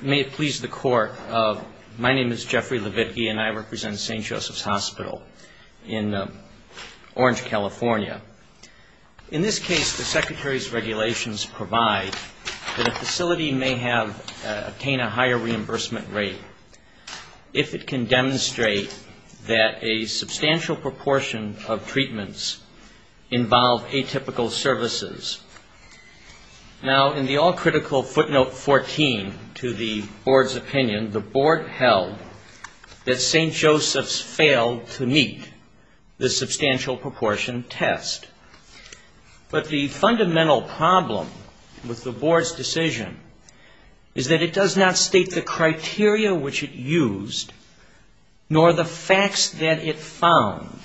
May it please the Court, my name is Jeffrey Leavitt, and I represent St. Joseph's Hospital in Orange, California. In this case, the Secretary's regulations provide that a facility may obtain a higher reimbursement rate if it can demonstrate that a substantial proportion of treatments involve atypical services. Now, in the all-critical footnote 14 to the Board's opinion, the Board held that St. Joseph's failed to meet the substantial proportion test. But the fundamental problem with the Board's decision is that it does not state the criteria which it used nor the facts that it found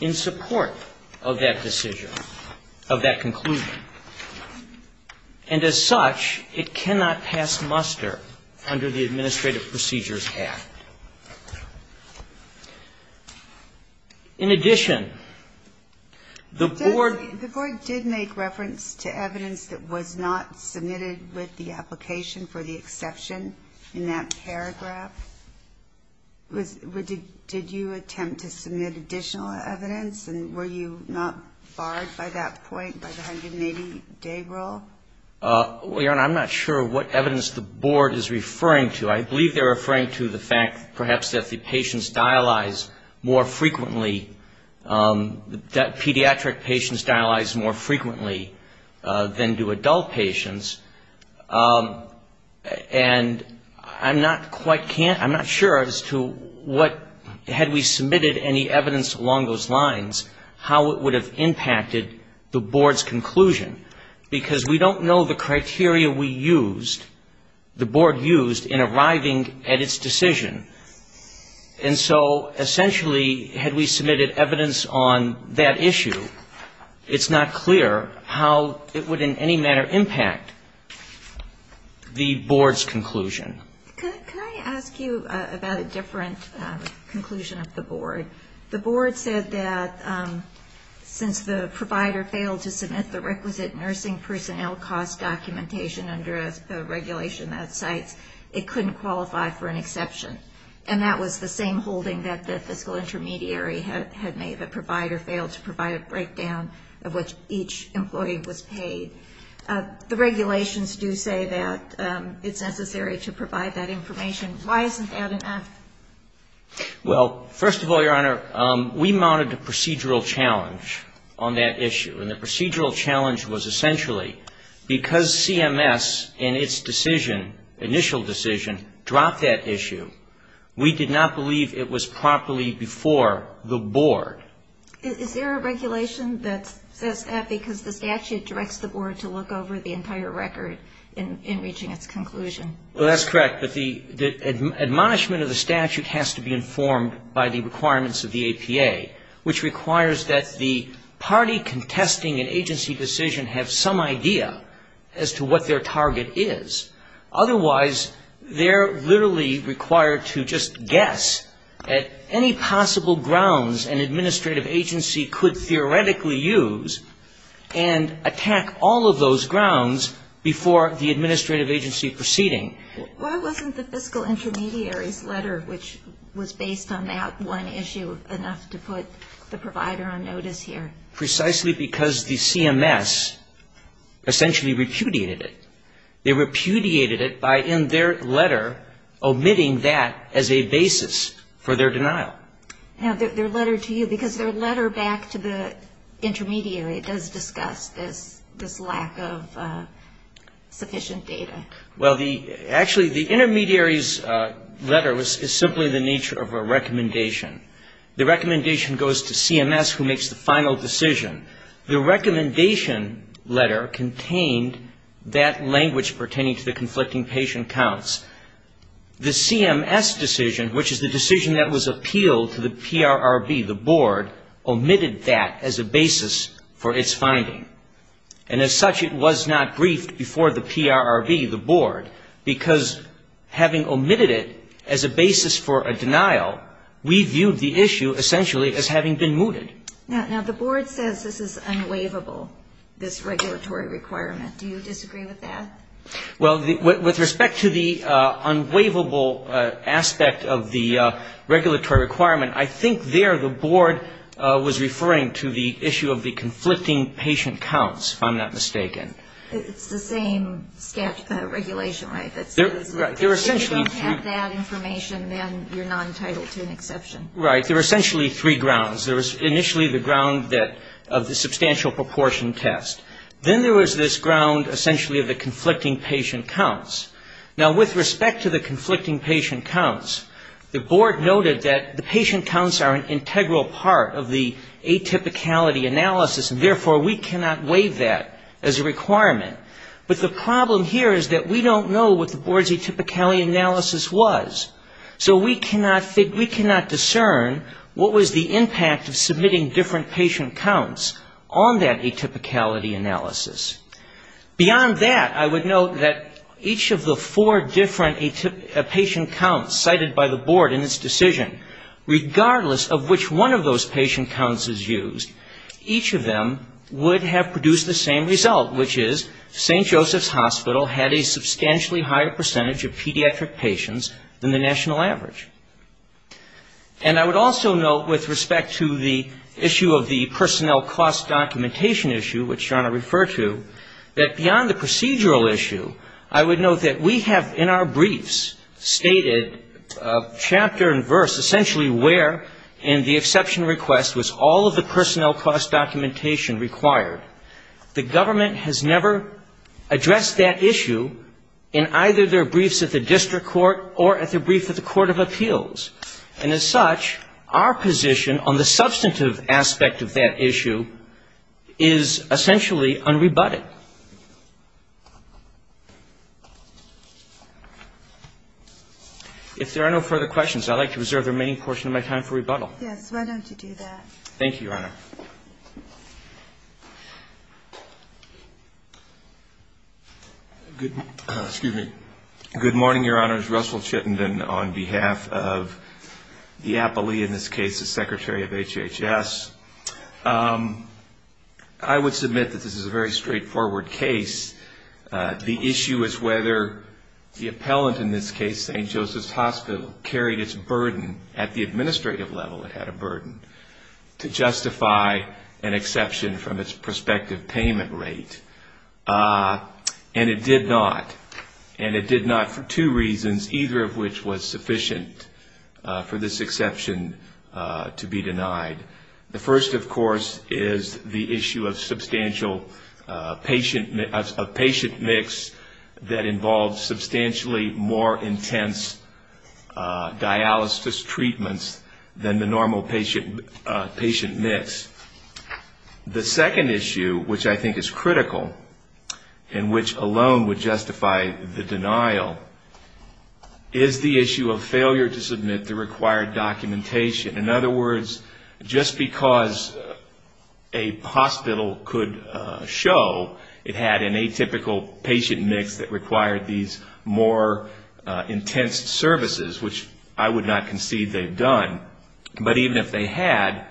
in support of that decision, of that conclusion. And as such, it cannot pass muster under the Administrative Procedures Act. In addition, the Board The Board did make reference to evidence that was not submitted with the application for the exception in that paragraph. Did you attempt to submit additional evidence? And were you not barred by that point by the 180-day rule? Well, Your Honor, I'm not sure what evidence the Board is referring to. I believe they're referring to the fact perhaps that the patients dialyze more frequently, that pediatric patients dialyze more frequently than do adult patients. And I'm not quite can't, I'm not sure as to what, had we submitted any evidence along those lines, how it would have impacted the Board's conclusion. Because we don't know the criteria we used, the Board used in arriving at its decision. And so essentially, had we submitted evidence on that issue, it's not clear how it would in any manner impact the Board's conclusion. Can I ask you about a different conclusion of the Board? The Board said that since the provider failed to submit the requisite nursing personnel cost documentation under a regulation that cites, it couldn't qualify for an exception. And that was the same The regulations do say that it's necessary to provide that information. Why isn't that an F? Well, first of all, Your Honor, we mounted a procedural challenge on that issue. And the procedural challenge was essentially because CMS in its decision, initial decision, dropped that issue, we did not believe it was properly before the Board. Is there a regulation that says that because the statute directs the Board to look over the entire record in reaching its conclusion? Well, that's correct. But the admonishment of the statute has to be informed by the requirements of the APA, which requires that the party contesting an agency decision have some idea as to what their target is. Otherwise, they're literally required to just guess at any possible grounds an administrative agency could theoretically use and attack all of those grounds before the administrative agency proceeding. Why wasn't the fiscal intermediary's letter, which was based on that one issue, enough to put the provider on notice here? Precisely because the CMS essentially repudiated it. They repudiated it by, in their letter, omitting that as a basis for their denial. Now, their letter to you, because their letter back to the intermediary does discuss this lack of sufficient data. Well, actually, the intermediary's letter is simply the nature of a recommendation. The recommendation goes to CMS, who makes the final decision. The recommendation letter contained that language pertaining to the conflicting patient counts. The CMS decision, which is the decision that was appealed to the PRRB, the Board, omitted that as a basis for its finding. And as such, it was not briefed before the PRRB, the Board, because having omitted it as a basis for a denial, we viewed the issue essentially as having been mooted. Now, the Board says this is unwaivable, this regulatory requirement. Do you disagree with that? Well, with respect to the unwaivable aspect of the regulatory requirement, I think there the Board was referring to the issue of the conflicting patient counts, if I'm not mistaken. It's the same regulation, right? If you don't have that information, then you're non-titled to an exception. Right. There are essentially three grounds. There was initially the ground of the substantial proportion test. Then there was this ground, essentially, of the conflicting patient counts. Now, with respect to the conflicting patient counts, the Board noted that the patient counts are an integral part of the atypicality analysis, and therefore, we cannot waive that as a requirement. But the problem here is that we don't know what the Board's atypicality analysis was, so we cannot discern what was the impact of submitting different patient counts on that atypicality analysis. Beyond that, I would note that each of the four different patient counts cited by the Board in its decision, regardless of which one of St. Joseph's Hospital had a substantially higher percentage of pediatric patients than the national average. And I would also note, with respect to the issue of the personnel cost documentation issue, which John had referred to, that beyond the procedural issue, I would note that we have, in our briefs, stated chapter and verse, essentially, where in the exception request was all of the personnel cost documentation required, the government has never addressed that issue in either their briefs at the district court or at their briefs at the court of appeals. And as such, our position on the substantive aspect of that issue is essentially unrebutted. If there are no further questions, I would like to reserve the remaining portion of my time for rebuttal. Yes. Why don't you do that? Thank you, Your Honor. Good morning, Your Honor. This is Russell Chittenden on behalf of the appellee in this case, the Secretary of HHS. I would submit that this is a very straightforward case. The issue is whether the appellant in this case, St. Joseph's Hospital, carried its burden at the administrative level, it did not, and it did not for two reasons, either of which was sufficient for this exception to be denied. The first, of course, is the issue of the patient mix. The second issue, which I think is critical, and which alone would justify the denial, is the issue of failure to submit the required documentation. In other words, just because a hospital could show it had an atypical patient mix that required these more intense services, which I would not concede they've done, but even if they had,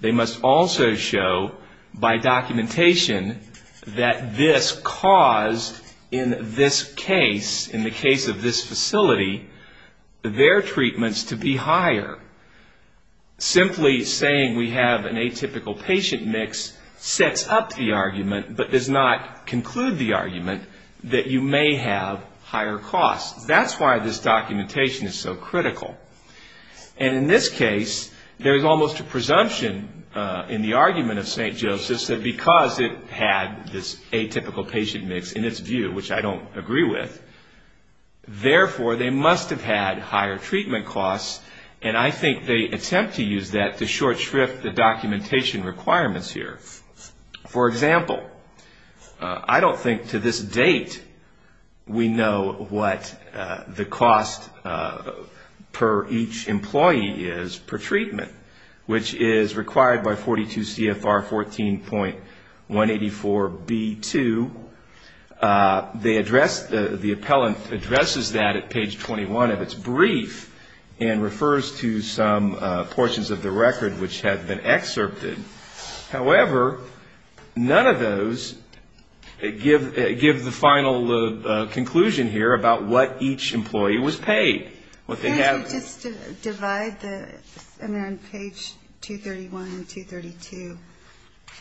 they must also show by documentation that this caused, in this case, in the case of this facility, their treatments to be higher. Simply saying we have an atypical patient mix sets up the argument, but does not conclude the argument that you may have higher costs. That's why this documentation is so critical. And in this case, there's almost a presumption in the argument of St. Joseph's that because it had this atypical patient mix in its view, which I don't agree with, therefore they must have had higher treatment costs, and I think they we know what the cost per each employee is per treatment, which is required by 42 CFR 14.184B2. The appellant addresses that at page 21 of its brief and conclusion here about what each employee was paid, what they have. Can you just divide the, and they're on page 231 and 232,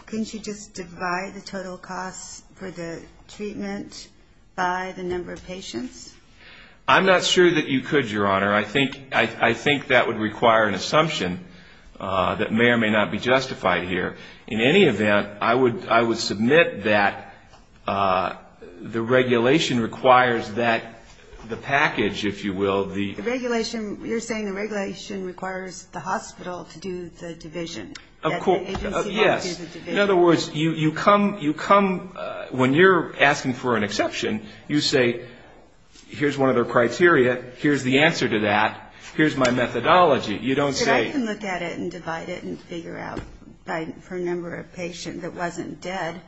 can you just divide the total costs for the treatment by the number of patients? I'm not sure that you could, Your Honor. I think that would require an assumption that may or may not be justified here. In any event, I would submit that the regulation requires that the package, if you will, the The regulation, you're saying the regulation requires the hospital to do the division. Of course, yes. In other words, you come, when you're asking for an exception, you say, here's one of their criteria, here's the answer to that, here's my methodology. You don't say You can look at it and divide it and figure out for a number of patients that wasn't dead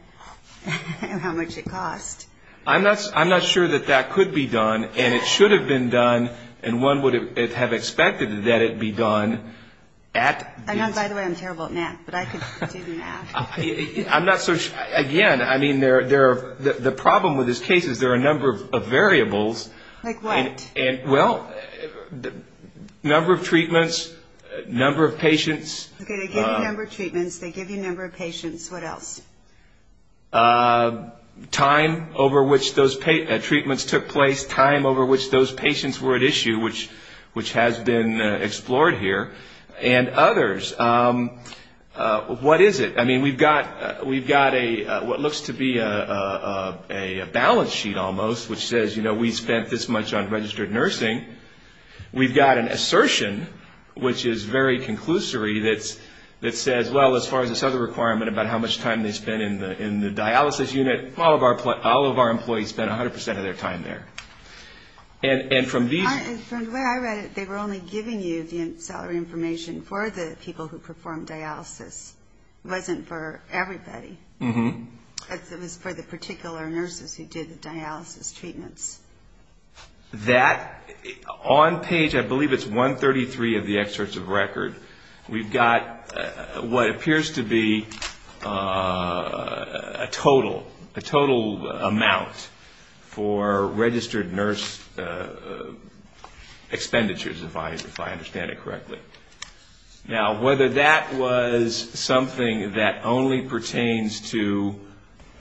how much it cost. I'm not sure that that could be done, and it should have been done, and one would have expected that it be done at I know, by the way, I'm terrible at math, but I could do the math. I'm not so sure. Again, I mean, the problem with this case is there are a number of variables. Like what? Well, number of treatments, number of patients They give you number of treatments, they give you number of patients, what else? Time over which those treatments took place, time over which those patients were at issue, which has been explored here, and others. What is it? I mean, we've got what looks to be a balance sheet, almost, which says, you know, we spent this much on registered nursing. We've got an assertion, which is very conclusory, that says, well, as far as this other requirement about how much time they spent in the dialysis unit, all of our employees spent 100% of their time there. And from these... From the way I read it, they were only giving you the salary information for the people who performed dialysis. It wasn't for everybody. It was for the particular nurses who did the dialysis treatments. That, on page, I believe it's 133 of the excerpts of record, we've got what appears to be a total amount for registered nurse expenditures, if I understand it correctly. Now, whether that was something that only pertains to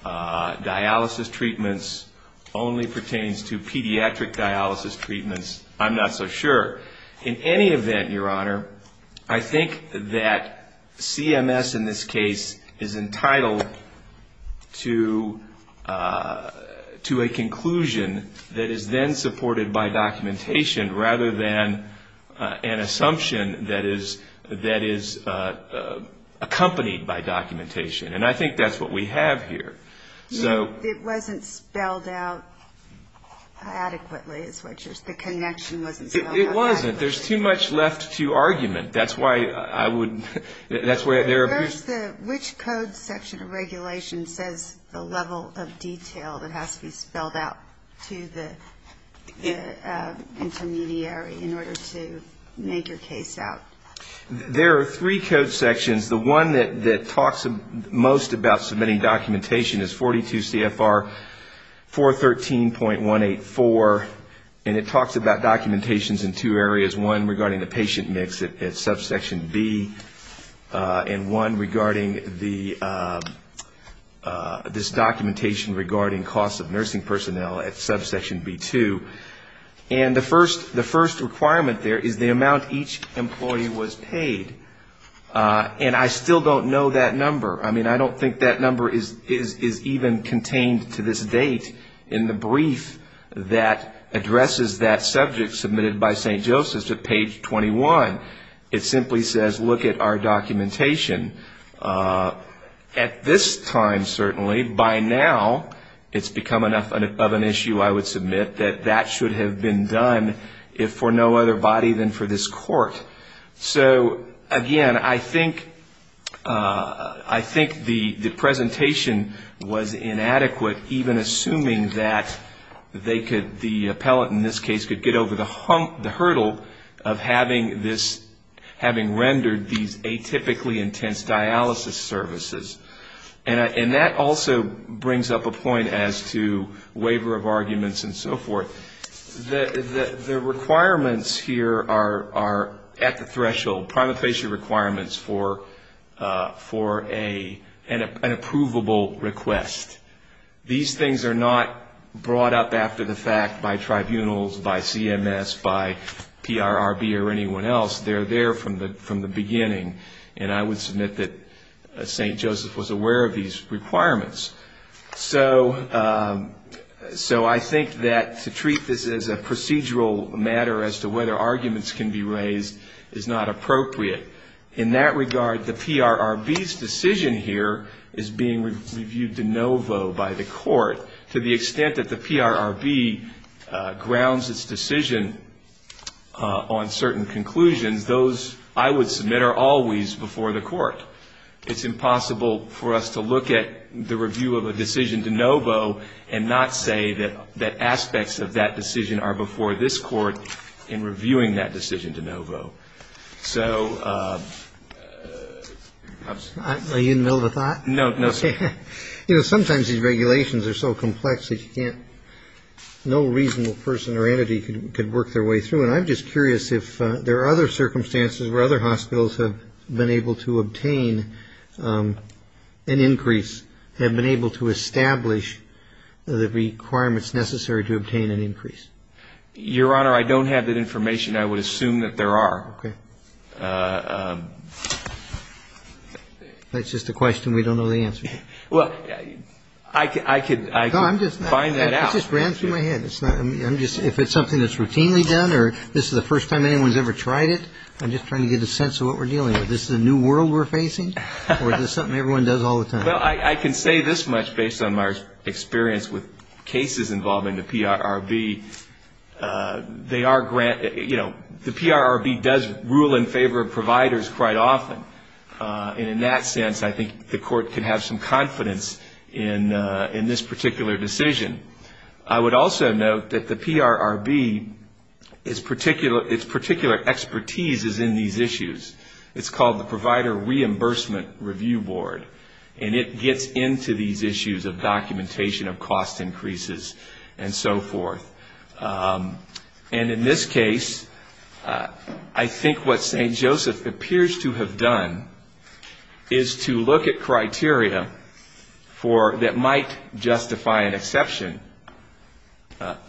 dialysis treatments, only pertains to pediatric dialysis treatments, I'm not so sure. In any event, Your Honor, I think that CMS, in this case, is entitled to a conclusion that is then supported by documentation, rather than an assumption that is accompanied by documentation. And I think that's what we have here. It wasn't spelled out adequately, is what you're saying. The connection wasn't spelled out. It wasn't. There's too much left to argument. That's why I would... Which code section of regulation says the level of detail that has to be spelled out to the intermediary in order to make your case out? There are three code sections. The one that talks most about submitting documentation is 42 CFR 413.184. And it talks about documentations in two areas, one regarding the patient mix at subsection B, and one regarding this documentation regarding costs of nursing personnel at subsection B2. And the first requirement there is the amount each employee was paid. And I still don't know that number. I mean, I don't think that number is even contained to this date in the brief that addresses that subject submitted by St. Joseph's at page 21. It simply says, look at our documentation. At this time, certainly, by now, it's become enough of an issue, I would submit, that that should have been done if for no other body than for this Court. So, again, I think the presentation was inadequate even assuming that the appellate in this case could get over the hurdle of having rendered these atypically intense dialysis services. And that also brings up a point as to waiver of arguments and so forth. The requirements here are at the threshold, primary patient requirements for an approvable request. These things are not brought up after the fact by tribunals, by CMS, by PRRB or anyone else. They're there from the beginning. And I would submit that St. Joseph's was aware of these requirements. So I think that to treat this as a procedural matter as to whether arguments can be raised is not appropriate. In that regard, the PRRB's decision here is being reviewed de novo by the Court. To the extent that the PRRB grounds its decision on certain conclusions, those, I would submit, are always before the Court. It's impossible for us to look at the review of a decision de novo and not say that aspects of that decision are before this Court in reviewing that decision de novo. So... Are you in the middle of a thought? No. You know, sometimes these regulations are so complex that you can't, no reasonable person or entity could work their way through. And I'm just curious if there are other circumstances where other hospitals have been able to obtain an increase, have been able to establish the requirements necessary to obtain an increase. Your Honor, I don't have that information. I would assume that there are. Okay. That's just a question we don't know the answer to. Well, I could find that out. I just ran through my head. If it's something that's routinely done or this is the first time anyone's ever tried it, I'm just trying to get a sense of what we're dealing with. Is this a new world we're facing? Or is this something everyone does all the time? Well, I can say this much based on my experience with cases involving the PRRB. They are granted, you know, the PRRB does rule in favor of providers quite often. And in that sense, I think the Court can have some confidence in this particular decision. I would also note that the PRRB, its particular expertise is in these issues. It's called the Provider Reimbursement Review Board. And it gets into these issues of documentation of cost increases and so forth. And in this case, I think what St. Joseph appears to have done is to look at criteria that might justify an exception.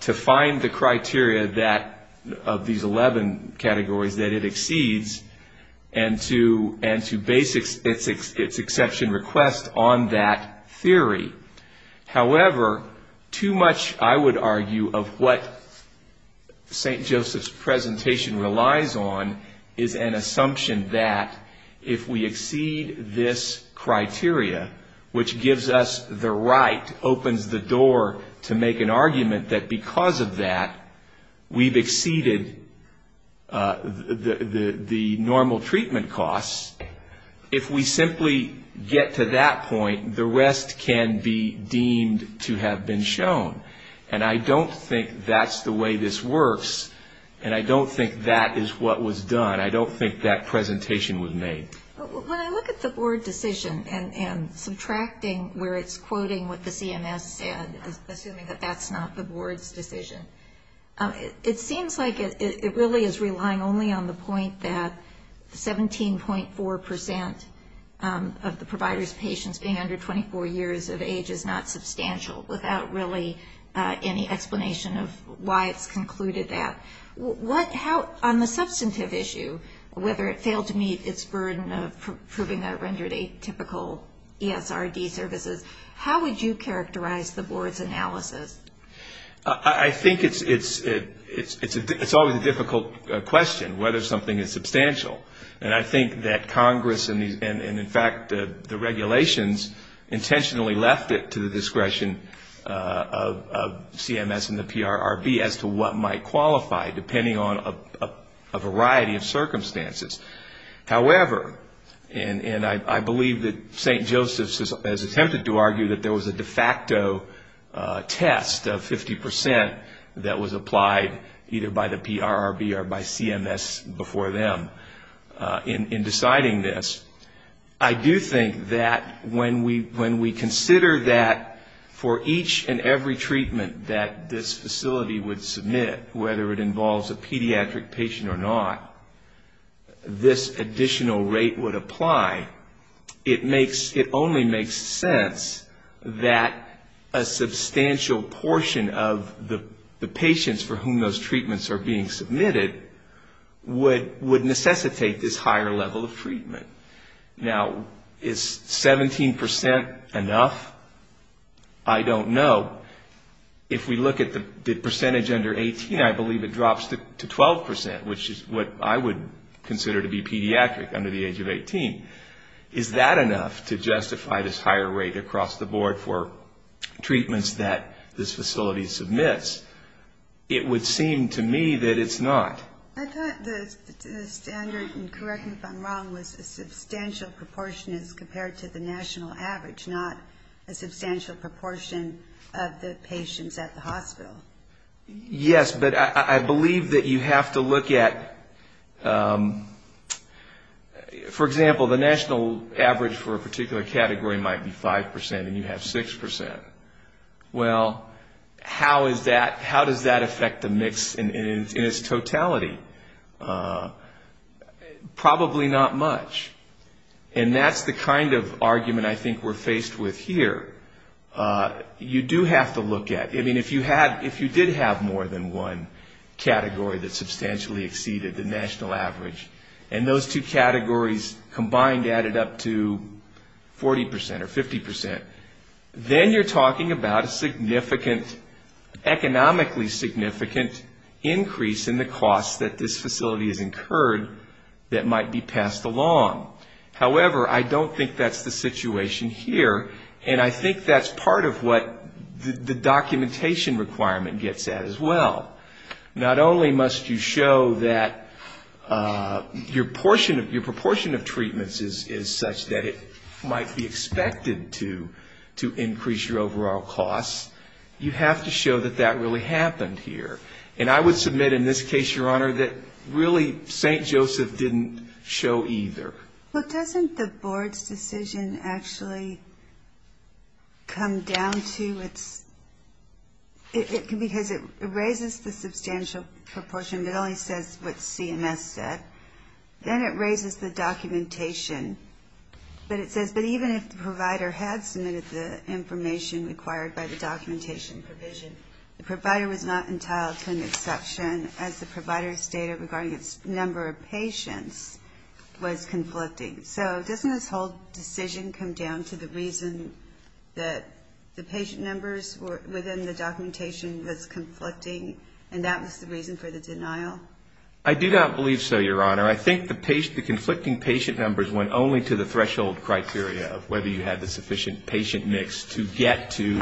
To find the criteria of these 11 categories that it exceeds and to base its exception request on that theory. However, too much, I would argue, of what St. Joseph's presentation relies on is an assumption that if we exceed this criteria, which gives us the right, opens the door to make an argument that because of that, we've exceeded the normal treatment costs. If we simply get to that point, the rest can be deemed to have been shown. And I don't think that's the way this works. And I don't think that is what was done. I don't think that presentation was made. When I look at the board decision and subtracting where it's quoting what the CMS said, assuming that that's not the board's decision, it seems like it really is relying only on the point that 17.4% of the provider's patients being under 24 years of age is not substantial without really any explanation of why it's concluded that. On the substantive issue, whether it failed to meet its burden of proving a rendered atypical ESRD services, how would you characterize the board's analysis? I think it's always a difficult question whether something is substantial. And I think that Congress and, in fact, the regulations intentionally left it to the discretion of CMS and the PRRB as to what might qualify, depending on a variety of circumstances. However, and I believe that St. Joseph's has attempted to argue that there was a de facto test of 50% that was applied either by the PRRB or by CMS before them in deciding this. I do think that when we consider that for each and every treatment that this facility would submit, whether it involves a pediatric patient or not, this additional rate would apply, it only makes sense that a substantial portion of the patients for whom those treatments are being submitted would necessitate this higher level of treatment. Now, is 17% enough? I don't know. If we look at the percentage under 18, I believe it drops to 12%, which is what I would consider to be pediatric under the age of 18. Is that enough to justify this higher rate across the board for treatments that this facility submits? It would seem to me that it's not. I thought the standard, and correct me if I'm wrong, was a substantial proportion as compared to the national average, not a substantial proportion of the patients at the hospital. Yes, but I believe that you have to look at, for example, the national average for a particular category might be 5% and you have 6%. Well, how does that affect the mix in its totality? Probably not much. And that's the kind of argument I think we're faced with here. You do have to look at, I mean, if you did have more than one category that substantially exceeded the national average, and those two categories combined added up to 40% or 50%, then you're talking about a significant, economically significant increase in the cost that this facility has incurred that might be passed along. However, I don't think that's the situation here, and I think that's part of what the documentation requirement gets at as well. Not only must you show that your proportion of treatments is such that it might be expected to increase your overall costs, you have to show that that really happened here. And I would submit in this case, Your Honor, that really St. Joseph didn't show either. But doesn't the board's decision actually come down to its, because it raises the question of whether or not it's a substantial proportion, but only says what CMS said. Then it raises the documentation, but it says, but even if the provider had submitted the information required by the documentation provision, the provider was not entitled to an exception, as the provider's data regarding its number of patients was conflicting. So doesn't this whole decision come down to the reason that the patient numbers within the documentation was conflicting, and that was the reason for the denial? I do not believe so, Your Honor. I think the conflicting patient numbers went only to the threshold criteria of whether you had the sufficient patient mix to get to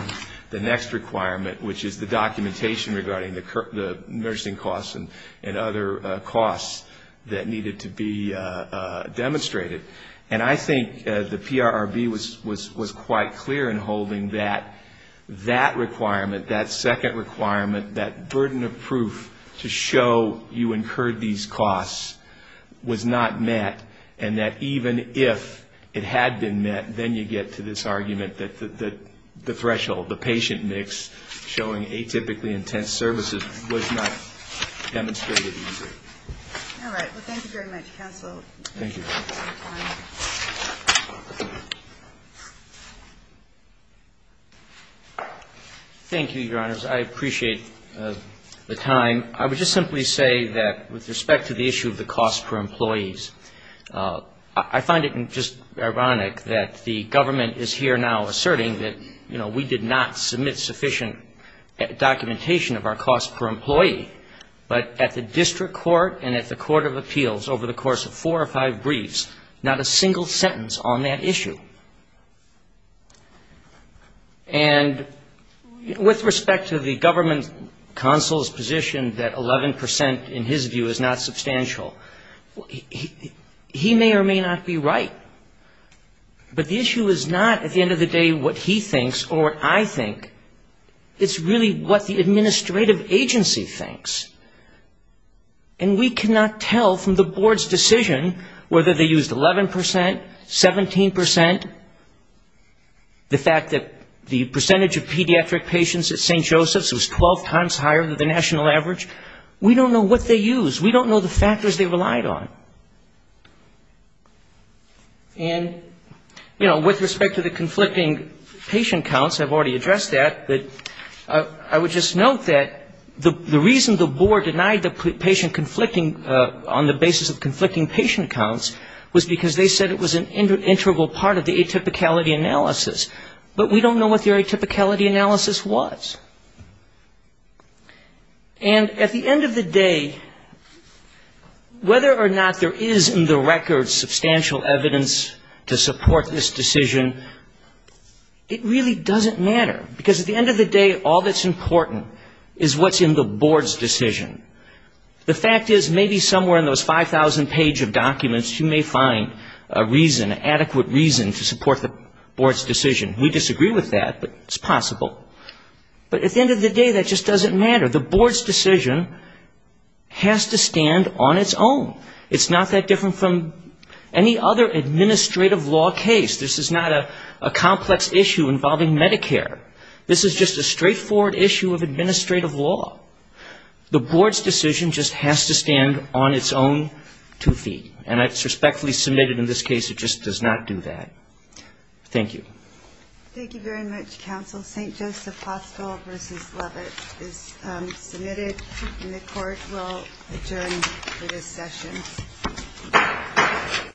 the next requirement, which is the documentation regarding the nursing costs and other costs that needed to be demonstrated. And I think the PRRB was quite clear in holding that that requirement, that second requirement, that proof to show you incurred these costs was not met, and that even if it had been met, then you get to this argument that the threshold, the patient mix showing atypically intense services was not demonstrated either. All right. Well, thank you very much, Counsel. Thank you. Thank you, Your Honors. I appreciate the time. I would just simply say that with respect to the issue of the cost per employees, I find it just ironic that the government is here now asserting that, you know, we did not submit sufficient documentation of our cost per employee, but at the end of the day, we have four or five briefs, not a single sentence on that issue. And with respect to the government counsel's position that 11% in his view is not substantial, he may or may not be right. But the issue is not at the end of the day what he thinks or what I think. It's really what the government is saying, whether they used 11%, 17%, the fact that the percentage of pediatric patients at St. Joseph's was 12 times higher than the national average. We don't know what they used. We don't know the factors they relied on. And, you know, with respect to the conflicting patient counts, I've already addressed that, but I would just note that the reason the board denied the patient counts was because they said it was an integral part of the atypicality analysis. But we don't know what their atypicality analysis was. And at the end of the day, whether or not there is in the records substantial evidence to support this decision, it really doesn't matter. Because at the end of the day, all that's important is what's in the board's decision. The fact is maybe somewhere in those 5,000 page of documents you may find a reason, adequate reason to support the board's decision. We disagree with that, but it's possible. But at the end of the day, that just doesn't matter. The board's decision has to stand on its own. It's not that different from any other administrative law case. This is not a complex issue involving Medicare. This is just a straightforward issue of administrative law. The board's decision just has to stand on its own two feet. And I've respectfully submitted in this case it just does not do that. Thank you. Thank you very much, counsel. St. Joseph Hospital v. Lovett is submitted, and the court will adjourn for this session.